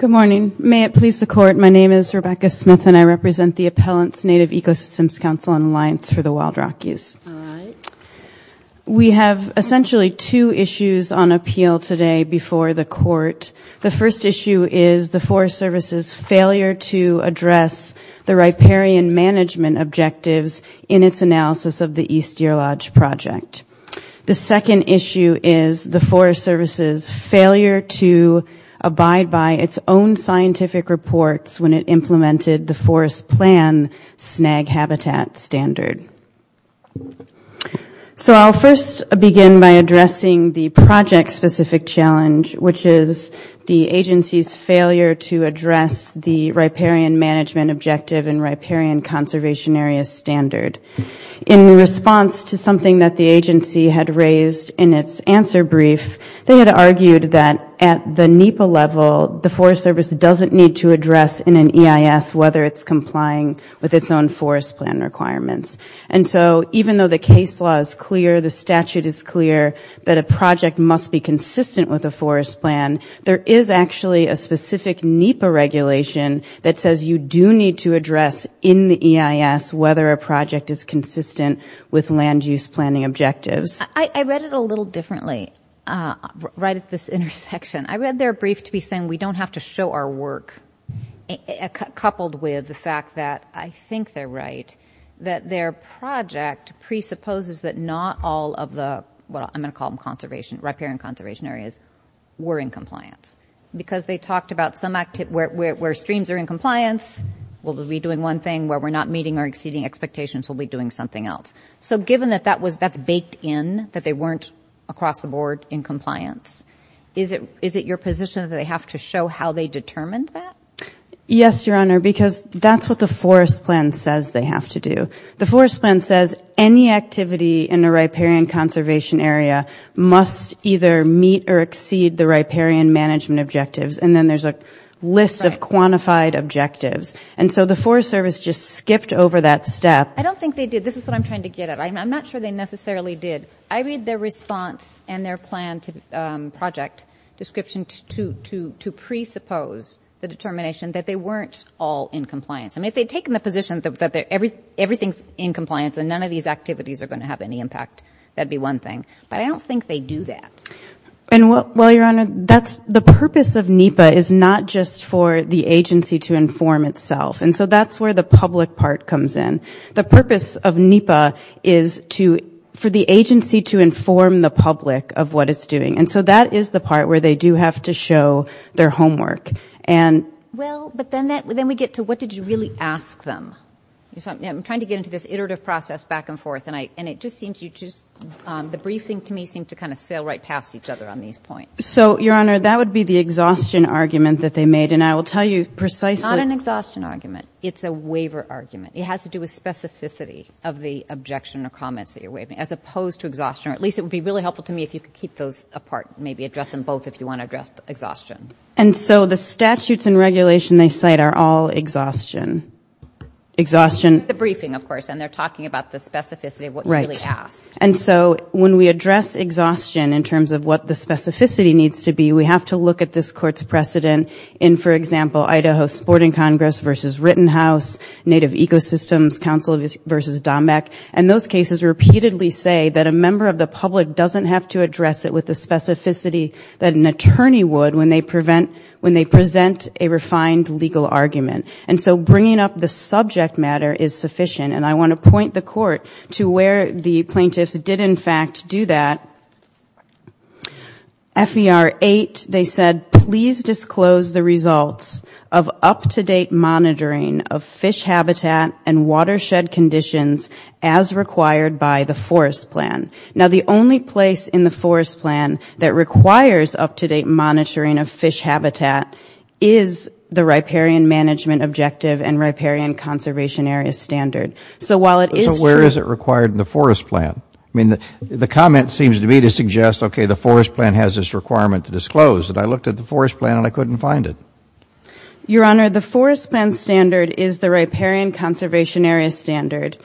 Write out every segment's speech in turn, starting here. Good morning, may it please the court. My name is Rebecca Smith and I represent the Appellants Native Ecosystems Council and Alliance for the Wild Rockies We have essentially two issues on appeal today before the court The first issue is the Forest Service's failure to address the riparian management objectives in its analysis of the East Deer Lodge project the second issue is the Forest Service's failure to abide by its own scientific reports when it implemented the forest plan snag habitat standard So I'll first begin by addressing the project specific challenge Which is the agency's failure to address the riparian management objective and riparian conservation area standard in Response to something that the agency had raised in its answer brief They had argued that at the NEPA level the Forest Service doesn't need to address in an EIS whether it's complying With its own forest plan requirements And so even though the case law is clear the statute is clear that a project must be consistent with a forest plan There is actually a specific NEPA regulation that says you do need to address in the EIS whether a project is Consistent with land use planning objectives. I read it a little differently Right at this intersection. I read their brief to be saying we don't have to show our work Coupled with the fact that I think they're right that their project Presupposes that not all of the well, I'm gonna call them conservation riparian conservation areas were in compliance Because they talked about some active where streams are in compliance We'll be doing one thing where we're not meeting or exceeding expectations We'll be doing something else. So given that that was that's baked in that they weren't across the board in compliance Is it is it your position that they have to show how they determined that? Yes, your honor because that's what the forest plan says They have to do the forest plan says any activity in a riparian conservation area Must either meet or exceed the riparian management objectives and then there's a list of quantified objectives And so the Forest Service just skipped over that step. I don't think they did. This is what I'm trying to get at I'm not sure they necessarily did I read their response and their plan to project description to to to presuppose The determination that they weren't all in compliance I mean if they'd taken the position that they're everything's in compliance and none of these activities are going to have any impact That'd be one thing but I don't think they do that And what well your honor that's the purpose of NEPA is not just for the agency to inform itself and so that's where the public part comes in the purpose of NEPA is to for the agency to inform the public of what it's doing and so that is the part where they do have to show their homework and Well, but then that would then we get to what did you really ask them? So I'm trying to get into this iterative process back and forth and I and it just seems you just The briefing to me seemed to kind of sail right past each other on these points So your honor that would be the exhaustion argument that they made and I will tell you precisely an exhaustion argument It's a waiver argument It has to do with specificity of the objection or comments that you're waving as opposed to exhaustion Or at least it would be really helpful to me if you could keep those apart Maybe address them both if you want to address the exhaustion and so the statutes and regulation they cite are all exhaustion Exhaustion the briefing of course and they're talking about the specificity of what really asked and so when we address Exhaustion in terms of what the specificity needs to be we have to look at this court's precedent in for example Idaho Sporting Congress versus Rittenhouse Native Ecosystems Council versus Dombeck and those cases repeatedly say that a member of the public doesn't have to address it with the specificity That an attorney would when they prevent when they present a refined legal argument And so bringing up the subject matter is sufficient and I want to point the court to where the plaintiffs did in fact do that Fvr 8 they said please disclose the results of up-to-date monitoring of fish habitat and watershed conditions as The only place in the forest plan that requires up-to-date monitoring of fish habitat is the riparian management objective and riparian conservation area standard So while it is where is it required in the forest plan? I mean the comment seems to me to suggest Okay, the forest plan has this requirement to disclose that I looked at the forest plan and I couldn't find it Your honor the forest plan standard is the riparian conservation area standard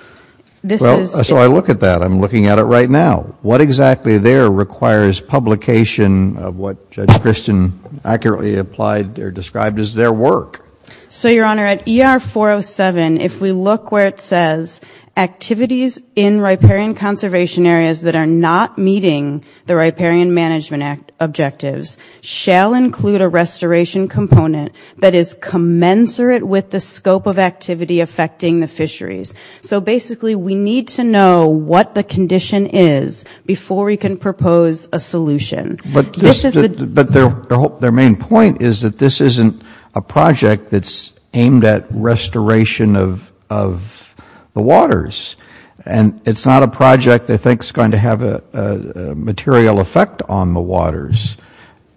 This is so I look at that I'm looking at it right now what exactly there requires publication of what Christian Accurately applied they're described as their work. So your honor at er 407 if we look where it says Activities in riparian conservation areas that are not meeting the riparian management act objectives Shall include a restoration component that is commensurate with the scope of activity affecting the fisheries So basically we need to know what the condition is before we can propose a solution but this is but their hope their main point is that this isn't a project that's aimed at restoration of the waters and it's not a project they think is going to have a material effect on the waters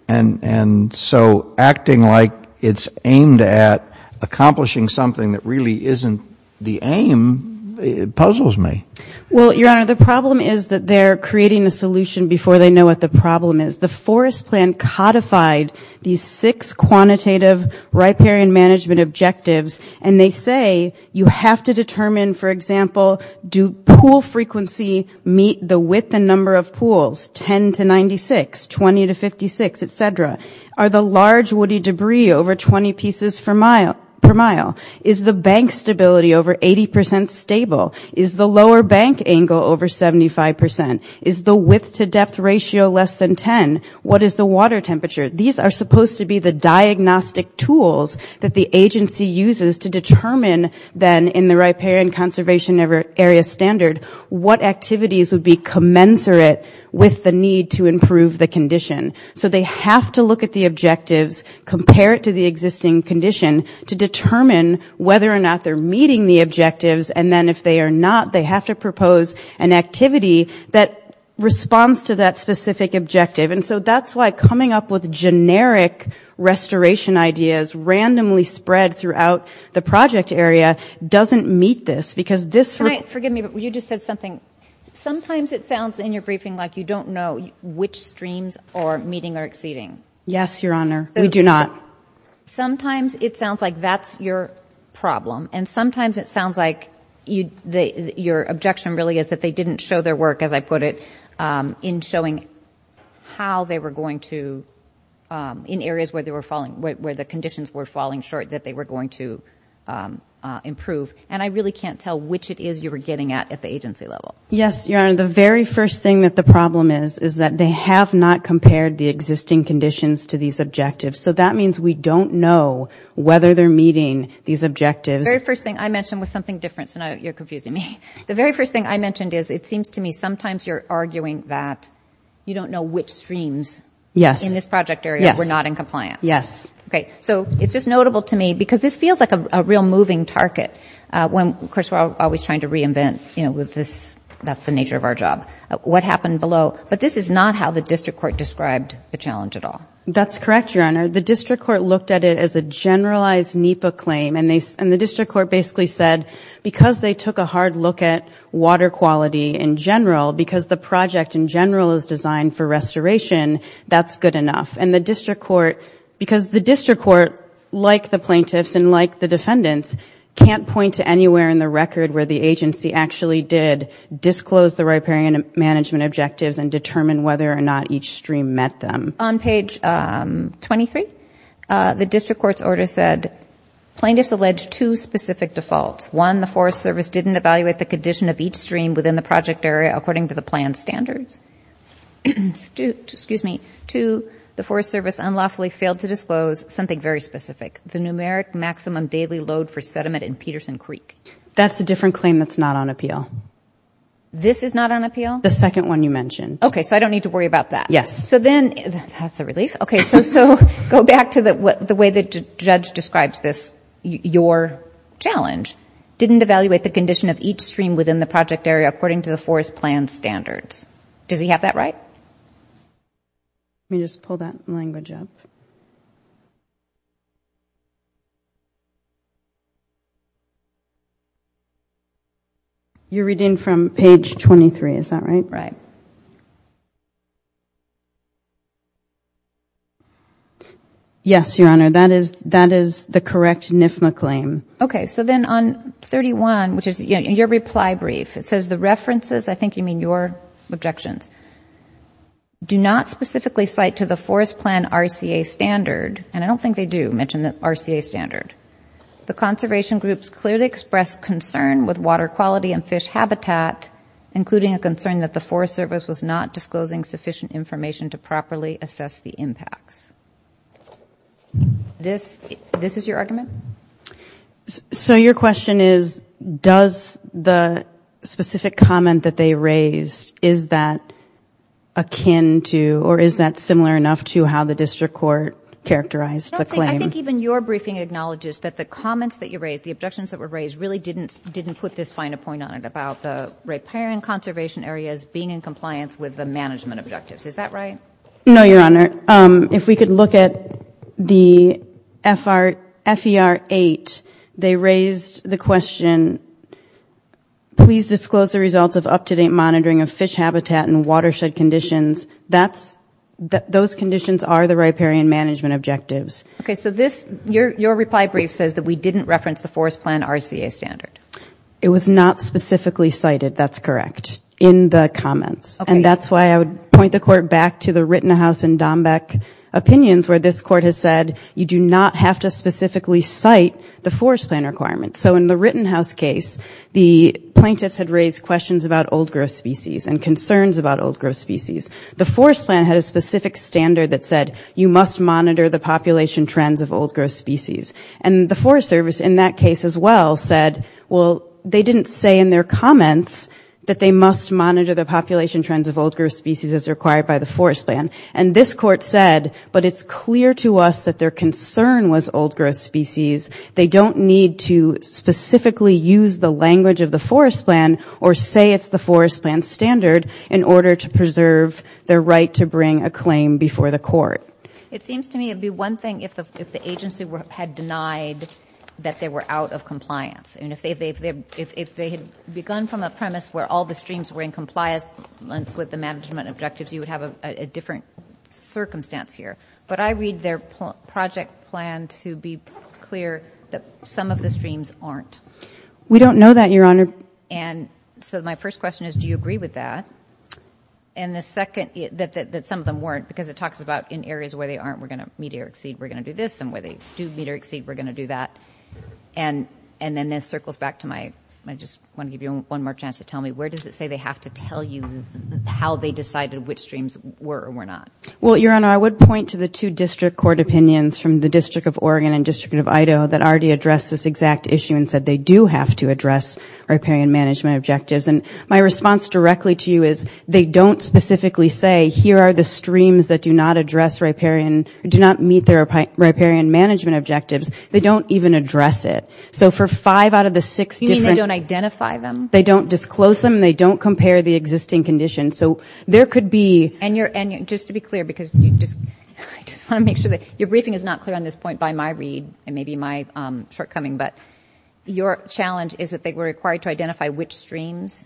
and And so acting like it's aimed at Accomplishing something that really isn't the aim Puzzles me. Well, your honor The problem is that they're creating a solution before they know what the problem is the forest plan codified these six quantitative riparian management objectives And they say you have to determine for example Do pool frequency meet the width and number of pools 10 to 96 20 to 56, etc Are the large woody debris over 20 pieces for mile per mile is the bank stability over 80% Stable is the lower bank angle over 75% is the width to depth ratio less than 10 What is the water temperature? These are supposed to be the diagnostic tools that the agency uses to determine Then in the riparian conservation ever area standard what activities would be commensurate? With the need to improve the condition so they have to look at the objectives Compare it to the existing condition to determine whether or not they're meeting the objectives and then if they are not they have to propose an activity that Responds to that specific objective and so that's why coming up with generic Restoration ideas randomly spread throughout the project area doesn't meet this because this right forgive me, but you just said something Sometimes it sounds in your briefing like you don't know which streams or meeting are exceeding. Yes, your honor. We do not sometimes it sounds like that's your Problem and sometimes it sounds like you the your objection really is that they didn't show their work as I put it in showing how they were going to in areas where they were falling where the conditions were falling short that they were going to Improve and I really can't tell which it is you were getting at at the agency level Yes, your honor The very first thing that the problem is is that they have not compared the existing conditions to these objectives So that means we don't know whether they're meeting these objectives very first thing I mentioned was something different tonight. You're confusing me The very first thing I mentioned is it seems to me sometimes you're arguing that you don't know which streams Yes in this project area. We're not in compliance. Yes, okay It's just notable to me because this feels like a real moving target when of course we're always trying to reinvent You know with this that's the nature of our job what happened below But this is not how the district court described the challenge at all. That's correct Your honor the district court looked at it as a generalized NEPA claim and they and the district court basically said Because they took a hard look at water quality in general because the project in general is designed for restoration That's good enough and the district court because the district court like the plaintiffs and like the defendants Can't point to anywhere in the record where the agency actually did Disclose the riparian management objectives and determine whether or not each stream met them on page 23 the district court's order said Plaintiffs allege two specific defaults one the Forest Service didn't evaluate the condition of each stream within the project area according to the plan standards To excuse me to the Forest Service unlawfully failed to disclose something very specific the numeric maximum daily load for sediment in Peterson Creek That's a different claim. That's not on appeal This is not on appeal the second one you mentioned. Okay, so I don't need to worry about that. Yes, so then that's a relief Okay, so so go back to that what the way the judge describes this your Challenge didn't evaluate the condition of each stream within the project area according to the forest plan standards Does he have that right? Let me just pull that language up You're reading from page 23, is that right, right? Yes, your honor that is that is the correct NIFA claim, okay Objections Do not specifically cite to the forest plan RCA standard and I don't think they do mention that RCA standard The conservation groups clearly expressed concern with water quality and fish habitat Including a concern that the Forest Service was not disclosing sufficient information to properly assess the impacts This this is your argument so your question is does the Specific comment that they raised is that Akin to or is that similar enough to how the district court characterized the claim? I think even your briefing acknowledges that the comments that you raised the objections that were raised really didn't didn't put this fine a point On it about the riparian conservation areas being in compliance with the management objectives. Is that right? No, your honor if we could look at the FR F ER 8 they raised the question Please disclose the results of up-to-date monitoring of fish habitat and watershed conditions. That's Those conditions are the riparian management objectives Okay, so this your reply brief says that we didn't reference the forest plan RCA standard. It was not specifically cited That's correct in the comments and that's why I would point the court back to the Rittenhouse and Dombeck Opinions where this court has said you do not have to specifically cite the forest plan requirements so in the Rittenhouse case The plaintiffs had raised questions about old-growth species and concerns about old-growth species the forest plan had a specific standard that said you must monitor the population trends of old-growth species and The Forest Service in that case as well said well they didn't say in their comments that they must monitor the population trends of old-growth species as required by the forest plan and this court Said but it's clear to us that their concern was old-growth species They don't need to specifically use the language of the forest plan or say it's the forest plan standard in order to preserve Their right to bring a claim before the court It seems to me it'd be one thing if the if the agency were had denied That they were out of compliance And if they've they've they've if they had begun from a premise where all the streams were in compliance Once with the management objectives, you would have a different Circumstance here, but I read their project plan to be clear that some of the streams aren't we don't know that your honor and So my first question is do you agree with that? And the second that some of them weren't because it talks about in areas where they aren't we're gonna meet or exceed we're gonna do this and where they do meet or exceed we're gonna do that and And then this circles back to my I just want to give you one more chance to tell me where does it say they have? How they decided which streams were or were not well your honor I would point to the two district court opinions from the District of Oregon and District of Idaho that already addressed this exact issue and said They do have to address Riparian management objectives and my response directly to you is they don't specifically say here are the streams that do not address Riparian do not meet their riparian management objectives. They don't even address it So for five out of the six, you don't identify them. They don't disclose them They don't compare the existing condition so there could be and you're and you're just to be clear because you just I just want to make sure that your briefing is not clear on this point by my read and maybe my shortcoming but your challenge is that they were required to identify which streams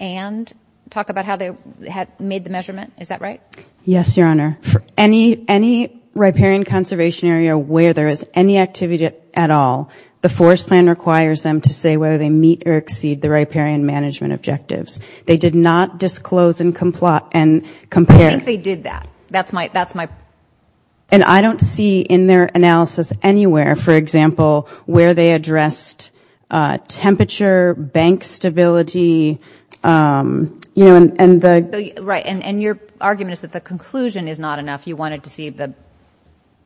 and Talk about how they had made the measurement. Is that right? Yes, your honor for any any Riparian conservation area where there is any activity at all The forest plan requires them to say whether they meet or exceed the riparian management objectives They did not disclose and comply and compare. They did that. That's my that's my And I don't see in their analysis anywhere. For example where they addressed temperature bank stability You know and the right and and your argument is that the conclusion is not enough you wanted to see the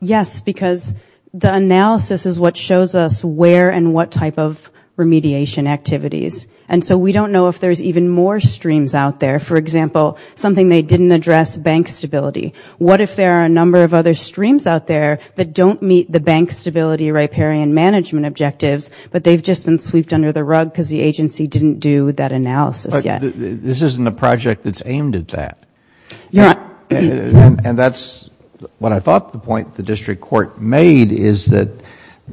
Yes, because the analysis is what shows us where and what type of Remediation activities and so we don't know if there's even more streams out there. For example something they didn't address bank stability What if there are a number of other streams out there that don't meet the bank stability riparian management objectives? But they've just been sweeped under the rug because the agency didn't do that analysis. Yeah, this isn't a project that's aimed at that Yeah And that's what I thought the point the district court made is that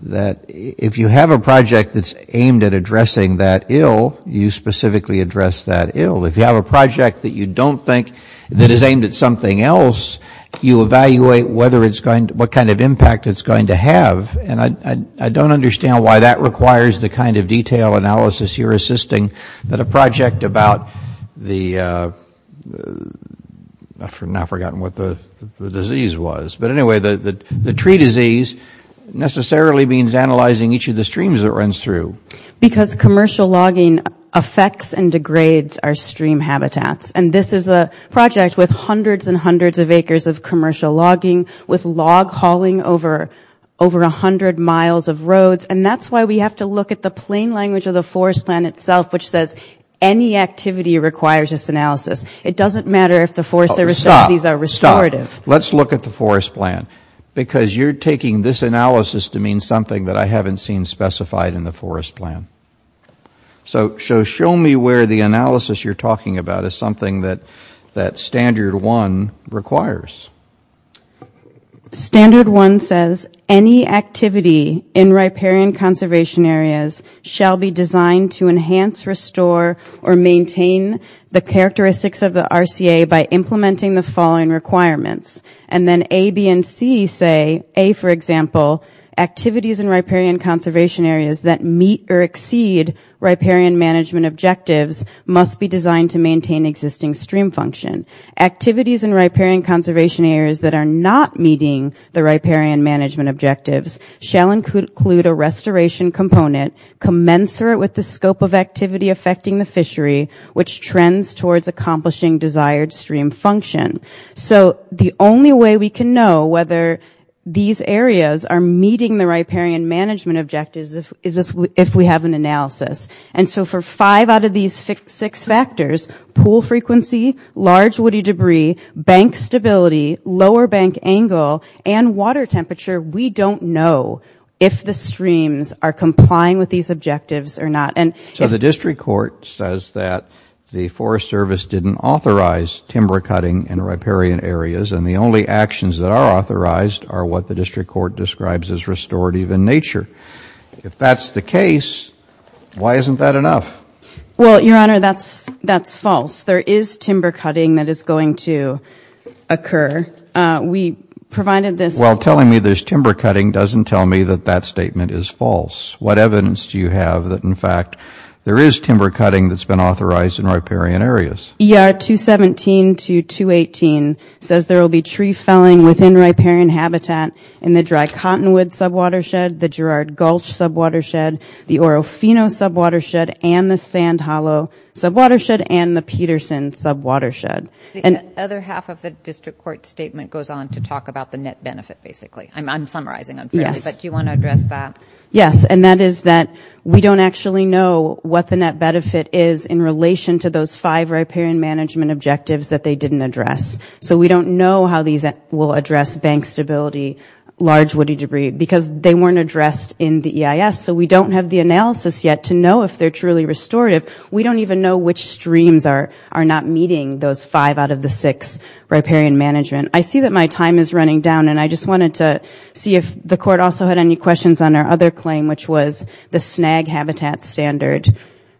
That if you have a project that's aimed at addressing that ill you specifically address that ill if you have a project that you don't Think that is aimed at something else You evaluate whether it's going to what kind of impact it's going to have and I I don't understand why that requires the kind of detail analysis you're assisting that a project about the After now forgotten what the disease was, but anyway that the tree disease Necessarily means analyzing each of the streams that runs through because commercial logging affects and degrades our stream habitats And this is a project with hundreds and hundreds of acres of commercial logging with log hauling over Over a hundred miles of roads and that's why we have to look at the plain language of the forest plan itself Which says any activity requires this analysis. It doesn't matter if the forest services are restorative Let's look at the forest plan because you're taking this analysis to mean something that I haven't seen specified in the forest plan So show me where the analysis you're talking about is something that that standard one requires Standard one says any Activity in riparian conservation areas shall be designed to enhance restore or maintain The characteristics of the RCA by implementing the following requirements and then a B and C say a for example activities in riparian conservation areas that meet or exceed Riparian management objectives must be designed to maintain existing stream function Activities in riparian conservation areas that are not meeting the riparian management objectives shall include a restoration Component commensurate with the scope of activity affecting the fishery which trends towards accomplishing desired stream function So the only way we can know whether These areas are meeting the riparian management objectives Is this if we have an analysis and so for five out of these six factors pool frequency large woody debris bank stability lower bank angle and water temperature We don't know if the streams are complying with these objectives or not And so the district court says that the Forest Service didn't authorize Timber cutting and riparian areas and the only actions that are authorized are what the district court describes as restorative in nature If that's the case Why isn't that enough? Well, your honor, that's that's false. There is timber cutting that is going to occur We provided this while telling me there's timber cutting doesn't tell me that that statement is false What evidence do you have that? In fact, there is timber cutting that's been authorized in riparian areas Yeah 217 to 218 says there will be tree felling within riparian habitat in the dry Cottonwood sub watershed the Girard Gulch sub watershed the Oro Fino sub watershed and the sand hollow Sub watershed and the Peterson sub watershed and other half of the district court statement goes on to talk about the net benefit Basically, I'm summarizing. Yes, but do you want to address that? Yes, and that is that we don't actually know what the net benefit is in relation to those five riparian management objectives that they didn't address So we don't know how these will address bank stability Large woody debris because they weren't addressed in the EIS So we don't have the analysis yet to know if they're truly restorative We don't even know which streams are are not meeting those five out of the six riparian management I see that my time is running down and I just wanted to See if the court also had any questions on our other claim, which was the snag habitat standard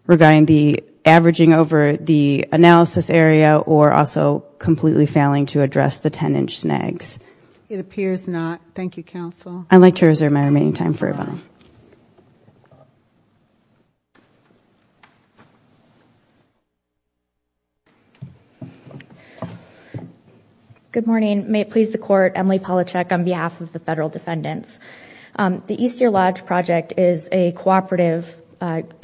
Regarding the averaging over the analysis area or also completely failing to address the 10-inch snags It appears not Thank You counsel. I'd like to reserve my remaining time for a while You Good morning, may it please the court Emily Palachuk on behalf of the federal defendants The East Year Lodge project is a cooperative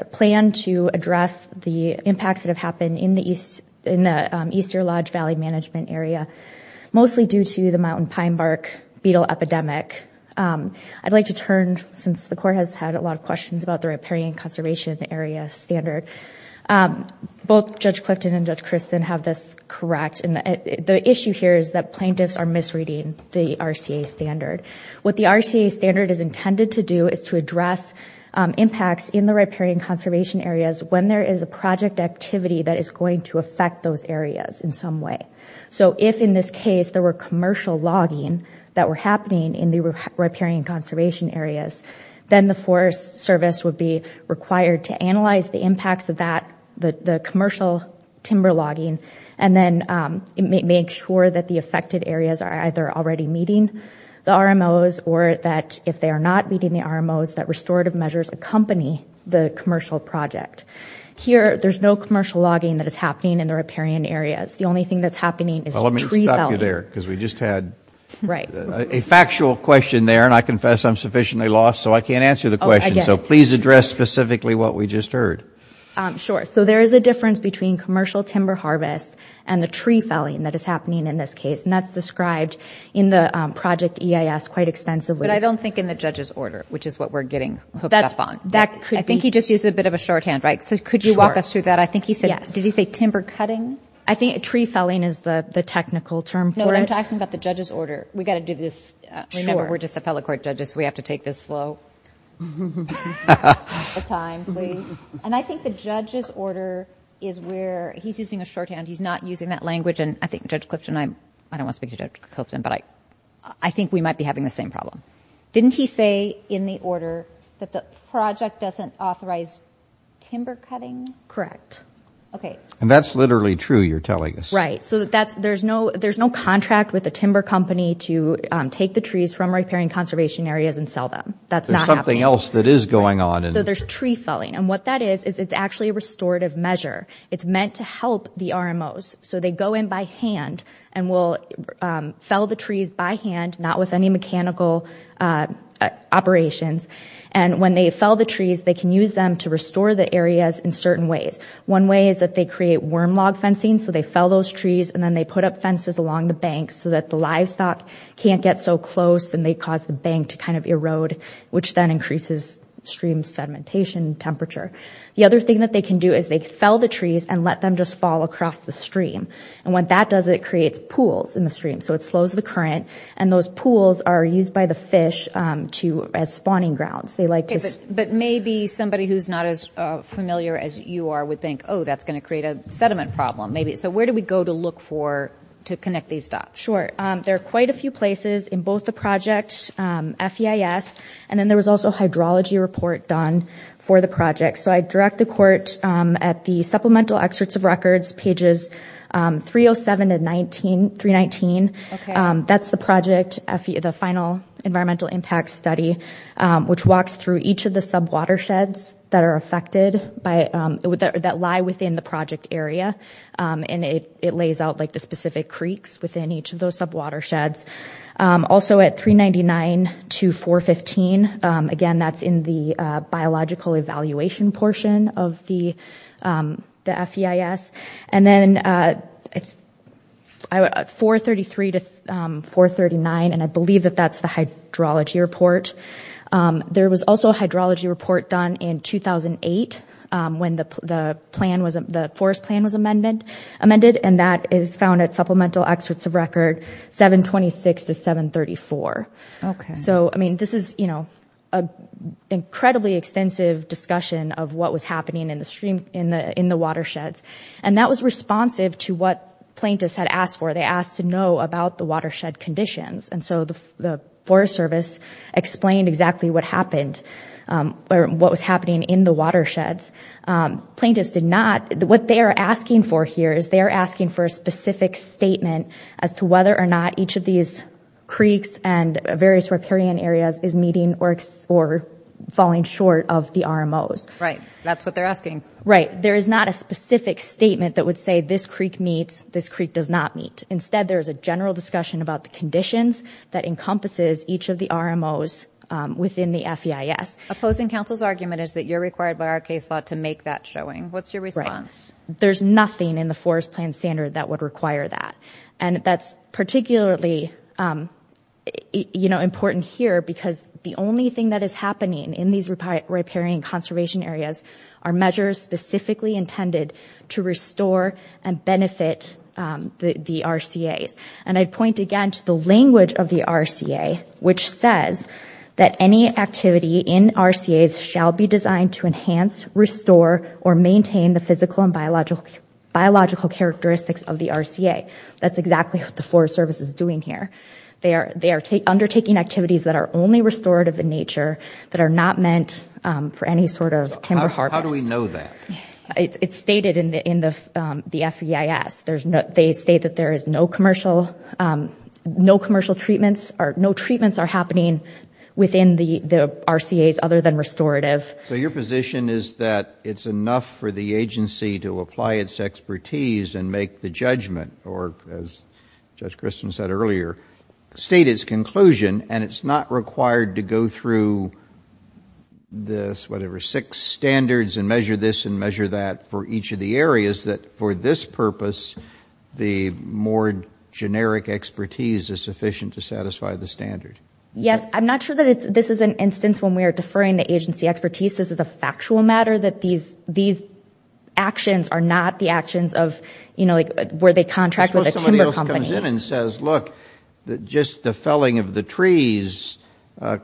Plan to address the impacts that have happened in the East in the East Year Lodge Valley management area mostly due to the mountain pine bark beetle epidemic I'd like to turn since the court has had a lot of questions about the riparian conservation area standard Both judge Clifton and judge Kristen have this correct and the issue here is that plaintiffs are misreading the RCA standard What the RCA standard is intended to do is to address Impacts in the riparian conservation areas when there is a project activity that is going to affect those areas in some way So if in this case there were commercial logging that were happening in the riparian conservation areas then the Forest Service would be required to analyze the impacts of that the the commercial timber logging and then Make sure that the affected areas are either already meeting The RMOs or that if they are not meeting the RMOs that restorative measures accompany the commercial project Here there's no commercial logging that is happening in the riparian areas. The only thing that's happening is there because we just had Right a factual question there and I confess I'm sufficiently lost so I can't answer the question. So please address specifically what we just heard Sure, so there is a difference between commercial timber harvest and the tree felling that is happening in this case And that's described in the project EIS quite extensively, but I don't think in the judge's order Which is what we're getting hooked up on that. I think he just used a bit of a shorthand, right? So could you walk us through that? I think he said yes, did he say timber cutting? I think a tree felling is the the technical term for it. No, I'm talking about the judge's order. We got to do this Remember, we're just a fellow court judges. We have to take this slow And I think the judge's order is where he's using a shorthand He's not using that language and I think judge Clifton I'm I don't want to speak to judge Clifton, but I I think we might be having the same problem Didn't he say in the order that the project doesn't authorize? Timber cutting correct. Okay, and that's literally true. You're telling us, right? So that's there's no there's no contract with a timber company to take the trees from repairing conservation areas and sell them That's not something else that is going on and there's tree felling and what that is is it's actually a restorative measure It's meant to help the RMOs. So they go in by hand and will Fell the trees by hand not with any mechanical Operations and when they fell the trees they can use them to restore the areas in certain ways One way is that they create worm log fencing So they fell those trees and then they put up fences along the bank so that the livestock Can't get so close and they cause the bank to kind of erode which then increases stream sedimentation temperature The other thing that they can do is they fell the trees and let them just fall across the stream And what that does it creates pools in the stream? So it slows the current and those pools are used by the fish to as spawning grounds They like this, but maybe somebody who's not as familiar as you are would think oh, that's going to create a sediment problem Maybe so, where do we go to look for to connect these dots? Sure, there are quite a few places in both the project FEIS and then there was also hydrology report done for the project So I direct the court at the supplemental excerpts of records pages 307 and 19 319 That's the project FE the final environmental impact study Which walks through each of the sub watersheds that are affected by it would that lie within the project area? And it it lays out like the specific creeks within each of those sub watersheds also at 399 to 415 again, that's in the biological evaluation portion of the The FEIS and then I would 433 to 439 and I believe that that's the hydrology report There was also a hydrology report done in 2008 When the plan wasn't the forest plan was amended amended and that is found at supplemental excerpts of record 726 to 734 okay, so I mean this is you know a In the watersheds and that was responsive to what plaintiffs had asked for they asked to know about the watershed conditions And so the Forest Service Explained exactly what happened Or what was happening in the watersheds? Plaintiffs did not what they are asking for here is they are asking for a specific statement as to whether or not each of these creeks and various riparian areas is meeting or Falling short of the RMOs, right? That's what they're asking, right? There is not a specific statement that would say this Creek meets this Creek does not meet instead There's a general discussion about the conditions that encompasses each of the RMOs Within the FEIS opposing counsel's argument is that you're required by our case law to make that showing what's your response? There's nothing in the forest plan standard that would require that and that's particularly You know important here because the only thing that is happening in these Riparian conservation areas are measures specifically intended to restore and benefit The the RCA's and I'd point again to the language of the RCA Which says that any activity in RCA's shall be designed to enhance Restore or maintain the physical and biological biological characteristics of the RCA That's exactly what the Forest Service is doing here They are they are undertaking activities that are only restorative in nature that are not meant for any sort of timber harvest How do we know that? It's stated in the in the the FEIS. There's no they state that there is no commercial No commercial treatments or no treatments are happening within the the RCA's other than restorative So your position is that it's enough for the agency to apply its expertise and make the judgment or as Judge Christian said earlier State its conclusion and it's not required to go through This whatever six standards and measure this and measure that for each of the areas that for this purpose the more Generic expertise is sufficient to satisfy the standard. Yes I'm not sure that it's this is an instance when we are deferring the agency expertise. This is a factual matter that these these Actions are not the actions of you know, like where they contract with a company and says look Just the felling of the trees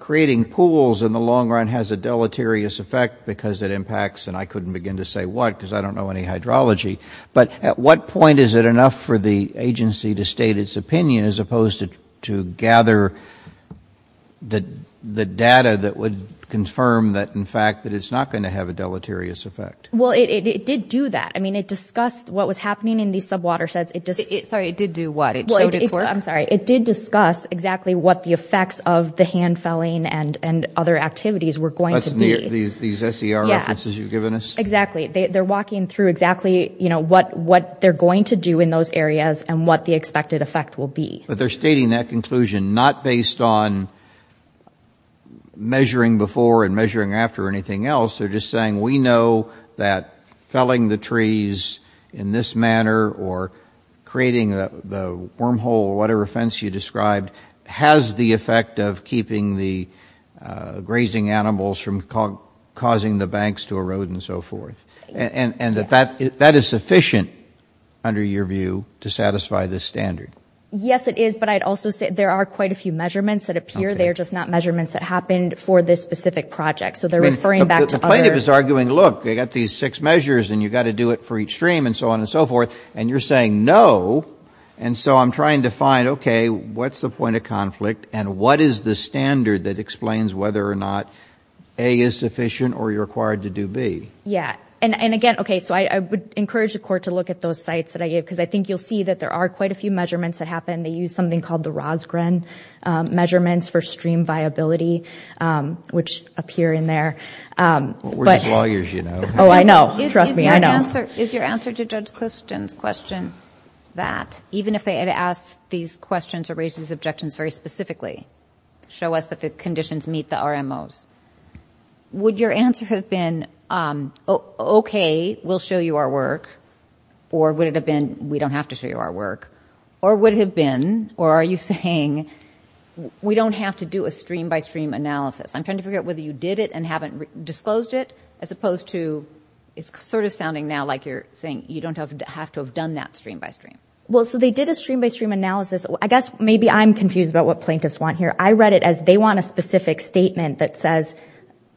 Creating pools in the long run has a deleterious effect because it impacts and I couldn't begin to say what because I don't know any Hydrology, but at what point is it enough for the agency to state its opinion as opposed to to gather? The data that would confirm that in fact that it's not going to have a deleterious effect Well, it did do that. I mean it discussed what was happening in these sub water says it does it sorry it did do what it? I'm sorry It did discuss exactly what the effects of the hand felling and and other activities were going to be these these SER Yes, as you've given us exactly they're walking through exactly You know what what they're going to do in those areas and what the expected effect will be but they're stating that conclusion not based on Measuring before and measuring after anything else. They're just saying we know that felling the trees in this manner or creating the wormhole or whatever offense you described has the effect of keeping the grazing animals from Causing the banks to erode and so forth and and that that that is sufficient Under your view to satisfy this standard. Yes, it is There are quite a few measurements that appear they're just not measurements that happened for this specific project So they're referring back to the plaintiff is arguing Look, they got these six measures and you got to do it for each stream and so on and so forth and you're saying no And so I'm trying to find okay, what's the point of conflict? And what is the standard that explains whether or not a is sufficient or you're required to do B? Yeah, and and again, okay So I would encourage the court to look at those sites that I gave because I think you'll see that there are quite a few Measurements that happen they use something called the Rosgren measurements for stream viability Which appear in there? But lawyers, you know, oh, I know Is your answer to judge Clifton's question that even if they had asked these questions or raises objections very specifically Show us that the conditions meet the RMOs Would your answer have been? Okay, we'll show you our work or would it have been we don't have to show you our work Or would it have been or are you saying? We don't have to do a stream-by-stream analysis I'm trying to figure out whether you did it and haven't disclosed it as opposed to It's sort of sounding now like you're saying you don't have to have done that stream by stream Well, so they did a stream-by-stream analysis. I guess maybe I'm confused about what plaintiffs want here I read it as they want a specific statement that says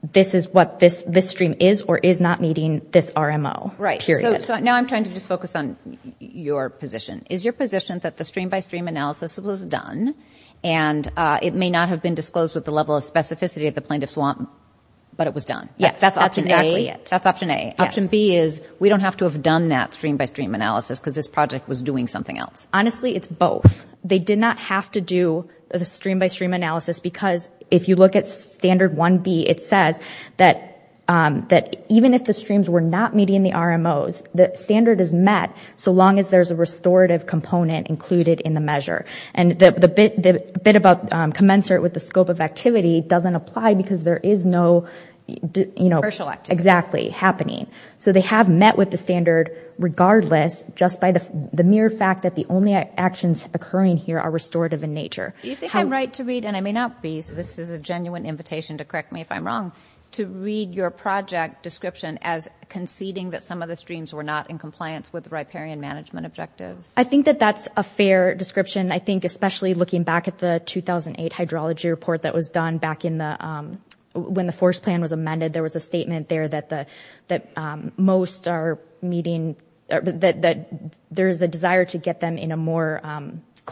This is what this this stream is or is not meeting this RMO, right? Now I'm trying to just focus on your position is your position that the stream-by-stream analysis was done and It may not have been disclosed with the level of specificity of the plaintiffs want but it was done. Yes, that's option Yeah, that's option a option B is we don't have to have done that stream-by-stream analysis because this project was doing something else Honestly, it's both they did not have to do the stream-by-stream analysis Because if you look at standard 1b, it says that That even if the streams were not meeting the RMOs the standard is met so long as there's a restorative component included in the measure and the bit about commensurate with the scope of activity doesn't apply because there is no You know, exactly happening. So they have met with the standard Regardless just by the mere fact that the only actions occurring here are restorative in nature Do you think I'm right to read and I may not be so this is a genuine invitation to correct me if I'm wrong To read your project description as conceding that some of the streams were not in compliance with the riparian management objectives I think that that's a fair description. I think especially looking back at the 2008 hydrology report that was done back in the when the forest plan was amended there was a statement there that the that most are meeting that There's a desire to get them in a more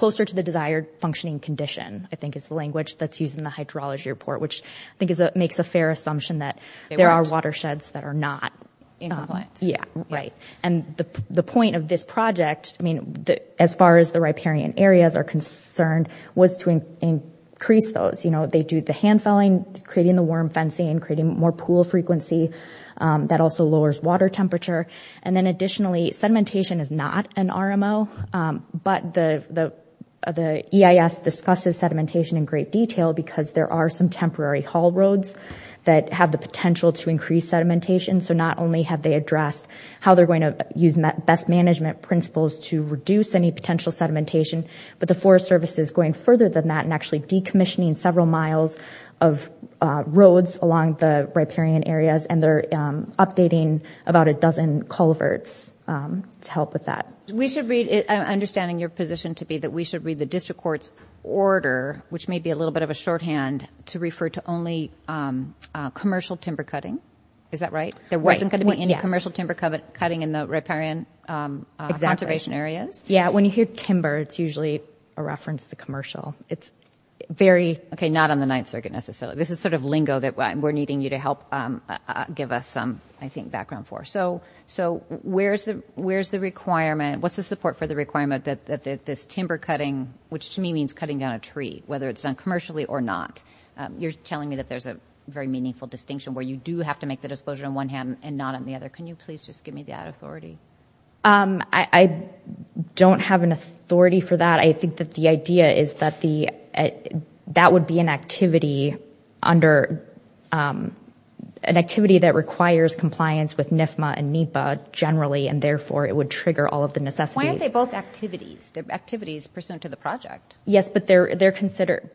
closer to the desired functioning condition I think is the language that's used in the hydrology report, which I think is that makes a fair assumption that there are watersheds that are not Yeah, right and the the point of this project I mean that as far as the riparian areas are concerned was to increase those You know, they do the hand felling creating the worm fencing creating more pool frequency That also lowers water temperature and then additionally sedimentation is not an RMO But the the the EIS discusses sedimentation in great detail because there are some temporary haul roads That have the potential to increase sedimentation So not only have they addressed how they're going to use best management principles to reduce any potential sedimentation but the Forest Service is going further than that and actually decommissioning several miles of Roads along the riparian areas and they're updating about a dozen culverts To help with that. We should read it. I'm understanding your position to be that we should read the district courts order Which may be a little bit of a shorthand to refer to only Commercial timber cutting is that right? There wasn't going to be any commercial timber covet cutting in the riparian Conservation areas. Yeah, when you hear timber, it's usually a reference to commercial. It's very okay. Not on the 9th circuit Necessarily, this is sort of lingo that we're needing you to help Give us some I think background for so so where's the where's the requirement? What's the support for the requirement that that this timber cutting which to me means cutting down a tree whether it's done commercially or not You're telling me that there's a very meaningful distinction where you do have to make the disclosure on one hand and not on the other Can you please just give me that authority? I Don't have an authority for that. I think that the idea is that the That would be an activity under An activity that requires compliance with NYFMA and NEPA generally and therefore it would trigger all of the necessity They both activities their activities pursuant to the project. Yes, but they're they're considered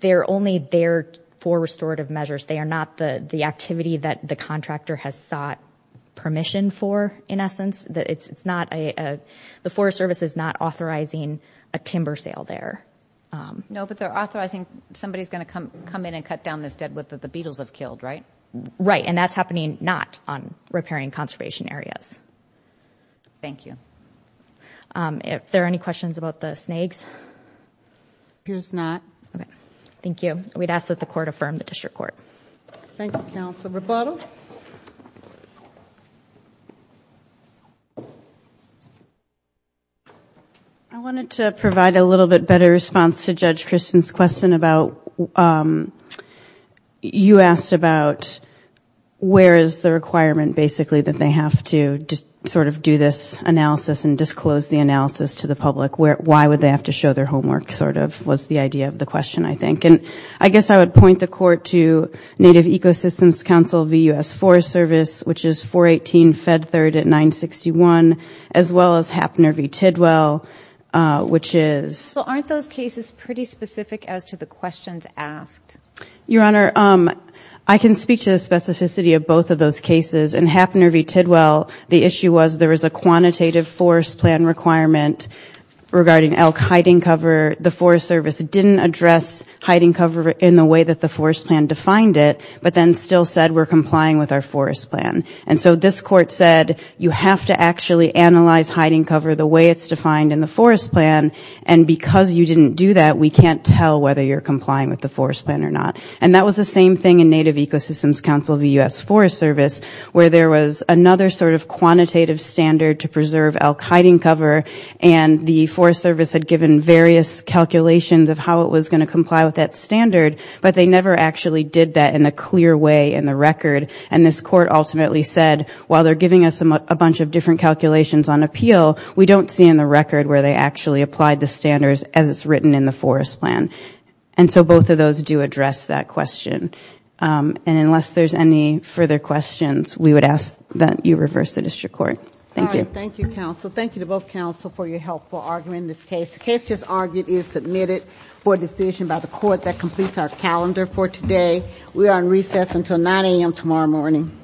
They're only there for restorative measures. They are not the the activity that the contractor has sought Permission for in essence that it's it's not a the Forest Service is not authorizing a timber sale there No, but they're authorizing somebody's gonna come come in and cut down this deadwood that the Beatles have killed right right and that's happening not on repairing conservation areas Thank you If there are any questions about the snakes Here's not. Okay. Thank you. We'd ask that the court affirm the district court. Thank you counsel rebuttal. I About You asked about Where is the requirement basically that they have to just sort of do this analysis and disclose the analysis to the public? Where why would they have to show their homework sort of was the idea of the question? I think and I guess I would point the court to Native Ecosystems Council vus for service Which is 418 fed third at 961 as well as happener v. Tidwell Which is aren't those cases pretty specific as to the questions asked your honor Um, I can speak to the specificity of both of those cases and happener v. Tidwell The issue was there was a quantitative forest plan requirement Regarding elk hiding cover the Forest Service didn't address hiding cover in the way that the forest plan defined it But then still said we're complying with our forest plan and so this court said you have to actually analyze hiding cover the way it's defined in the forest plan and Because you didn't do that We can't tell whether you're complying with the forest plan or not and that was the same thing in Native Ecosystems Council of the US Forest Service where there was another sort of Quantitative standard to preserve elk hiding cover and the Forest Service had given various Calculations of how it was going to comply with that standard But they never actually did that in a clear way in the record and this court ultimately said while they're giving us a bunch of different calculations on appeal We don't see in the record where they actually applied the standards as it's written in the forest plan And so both of those do address that question And unless there's any further questions, we would ask that you reverse the district court. Thank you Thank you to both counsel for your help for arguing this case Just argued is submitted for decision by the court that completes our calendar for today. We are in recess until 9 a.m. Tomorrow morning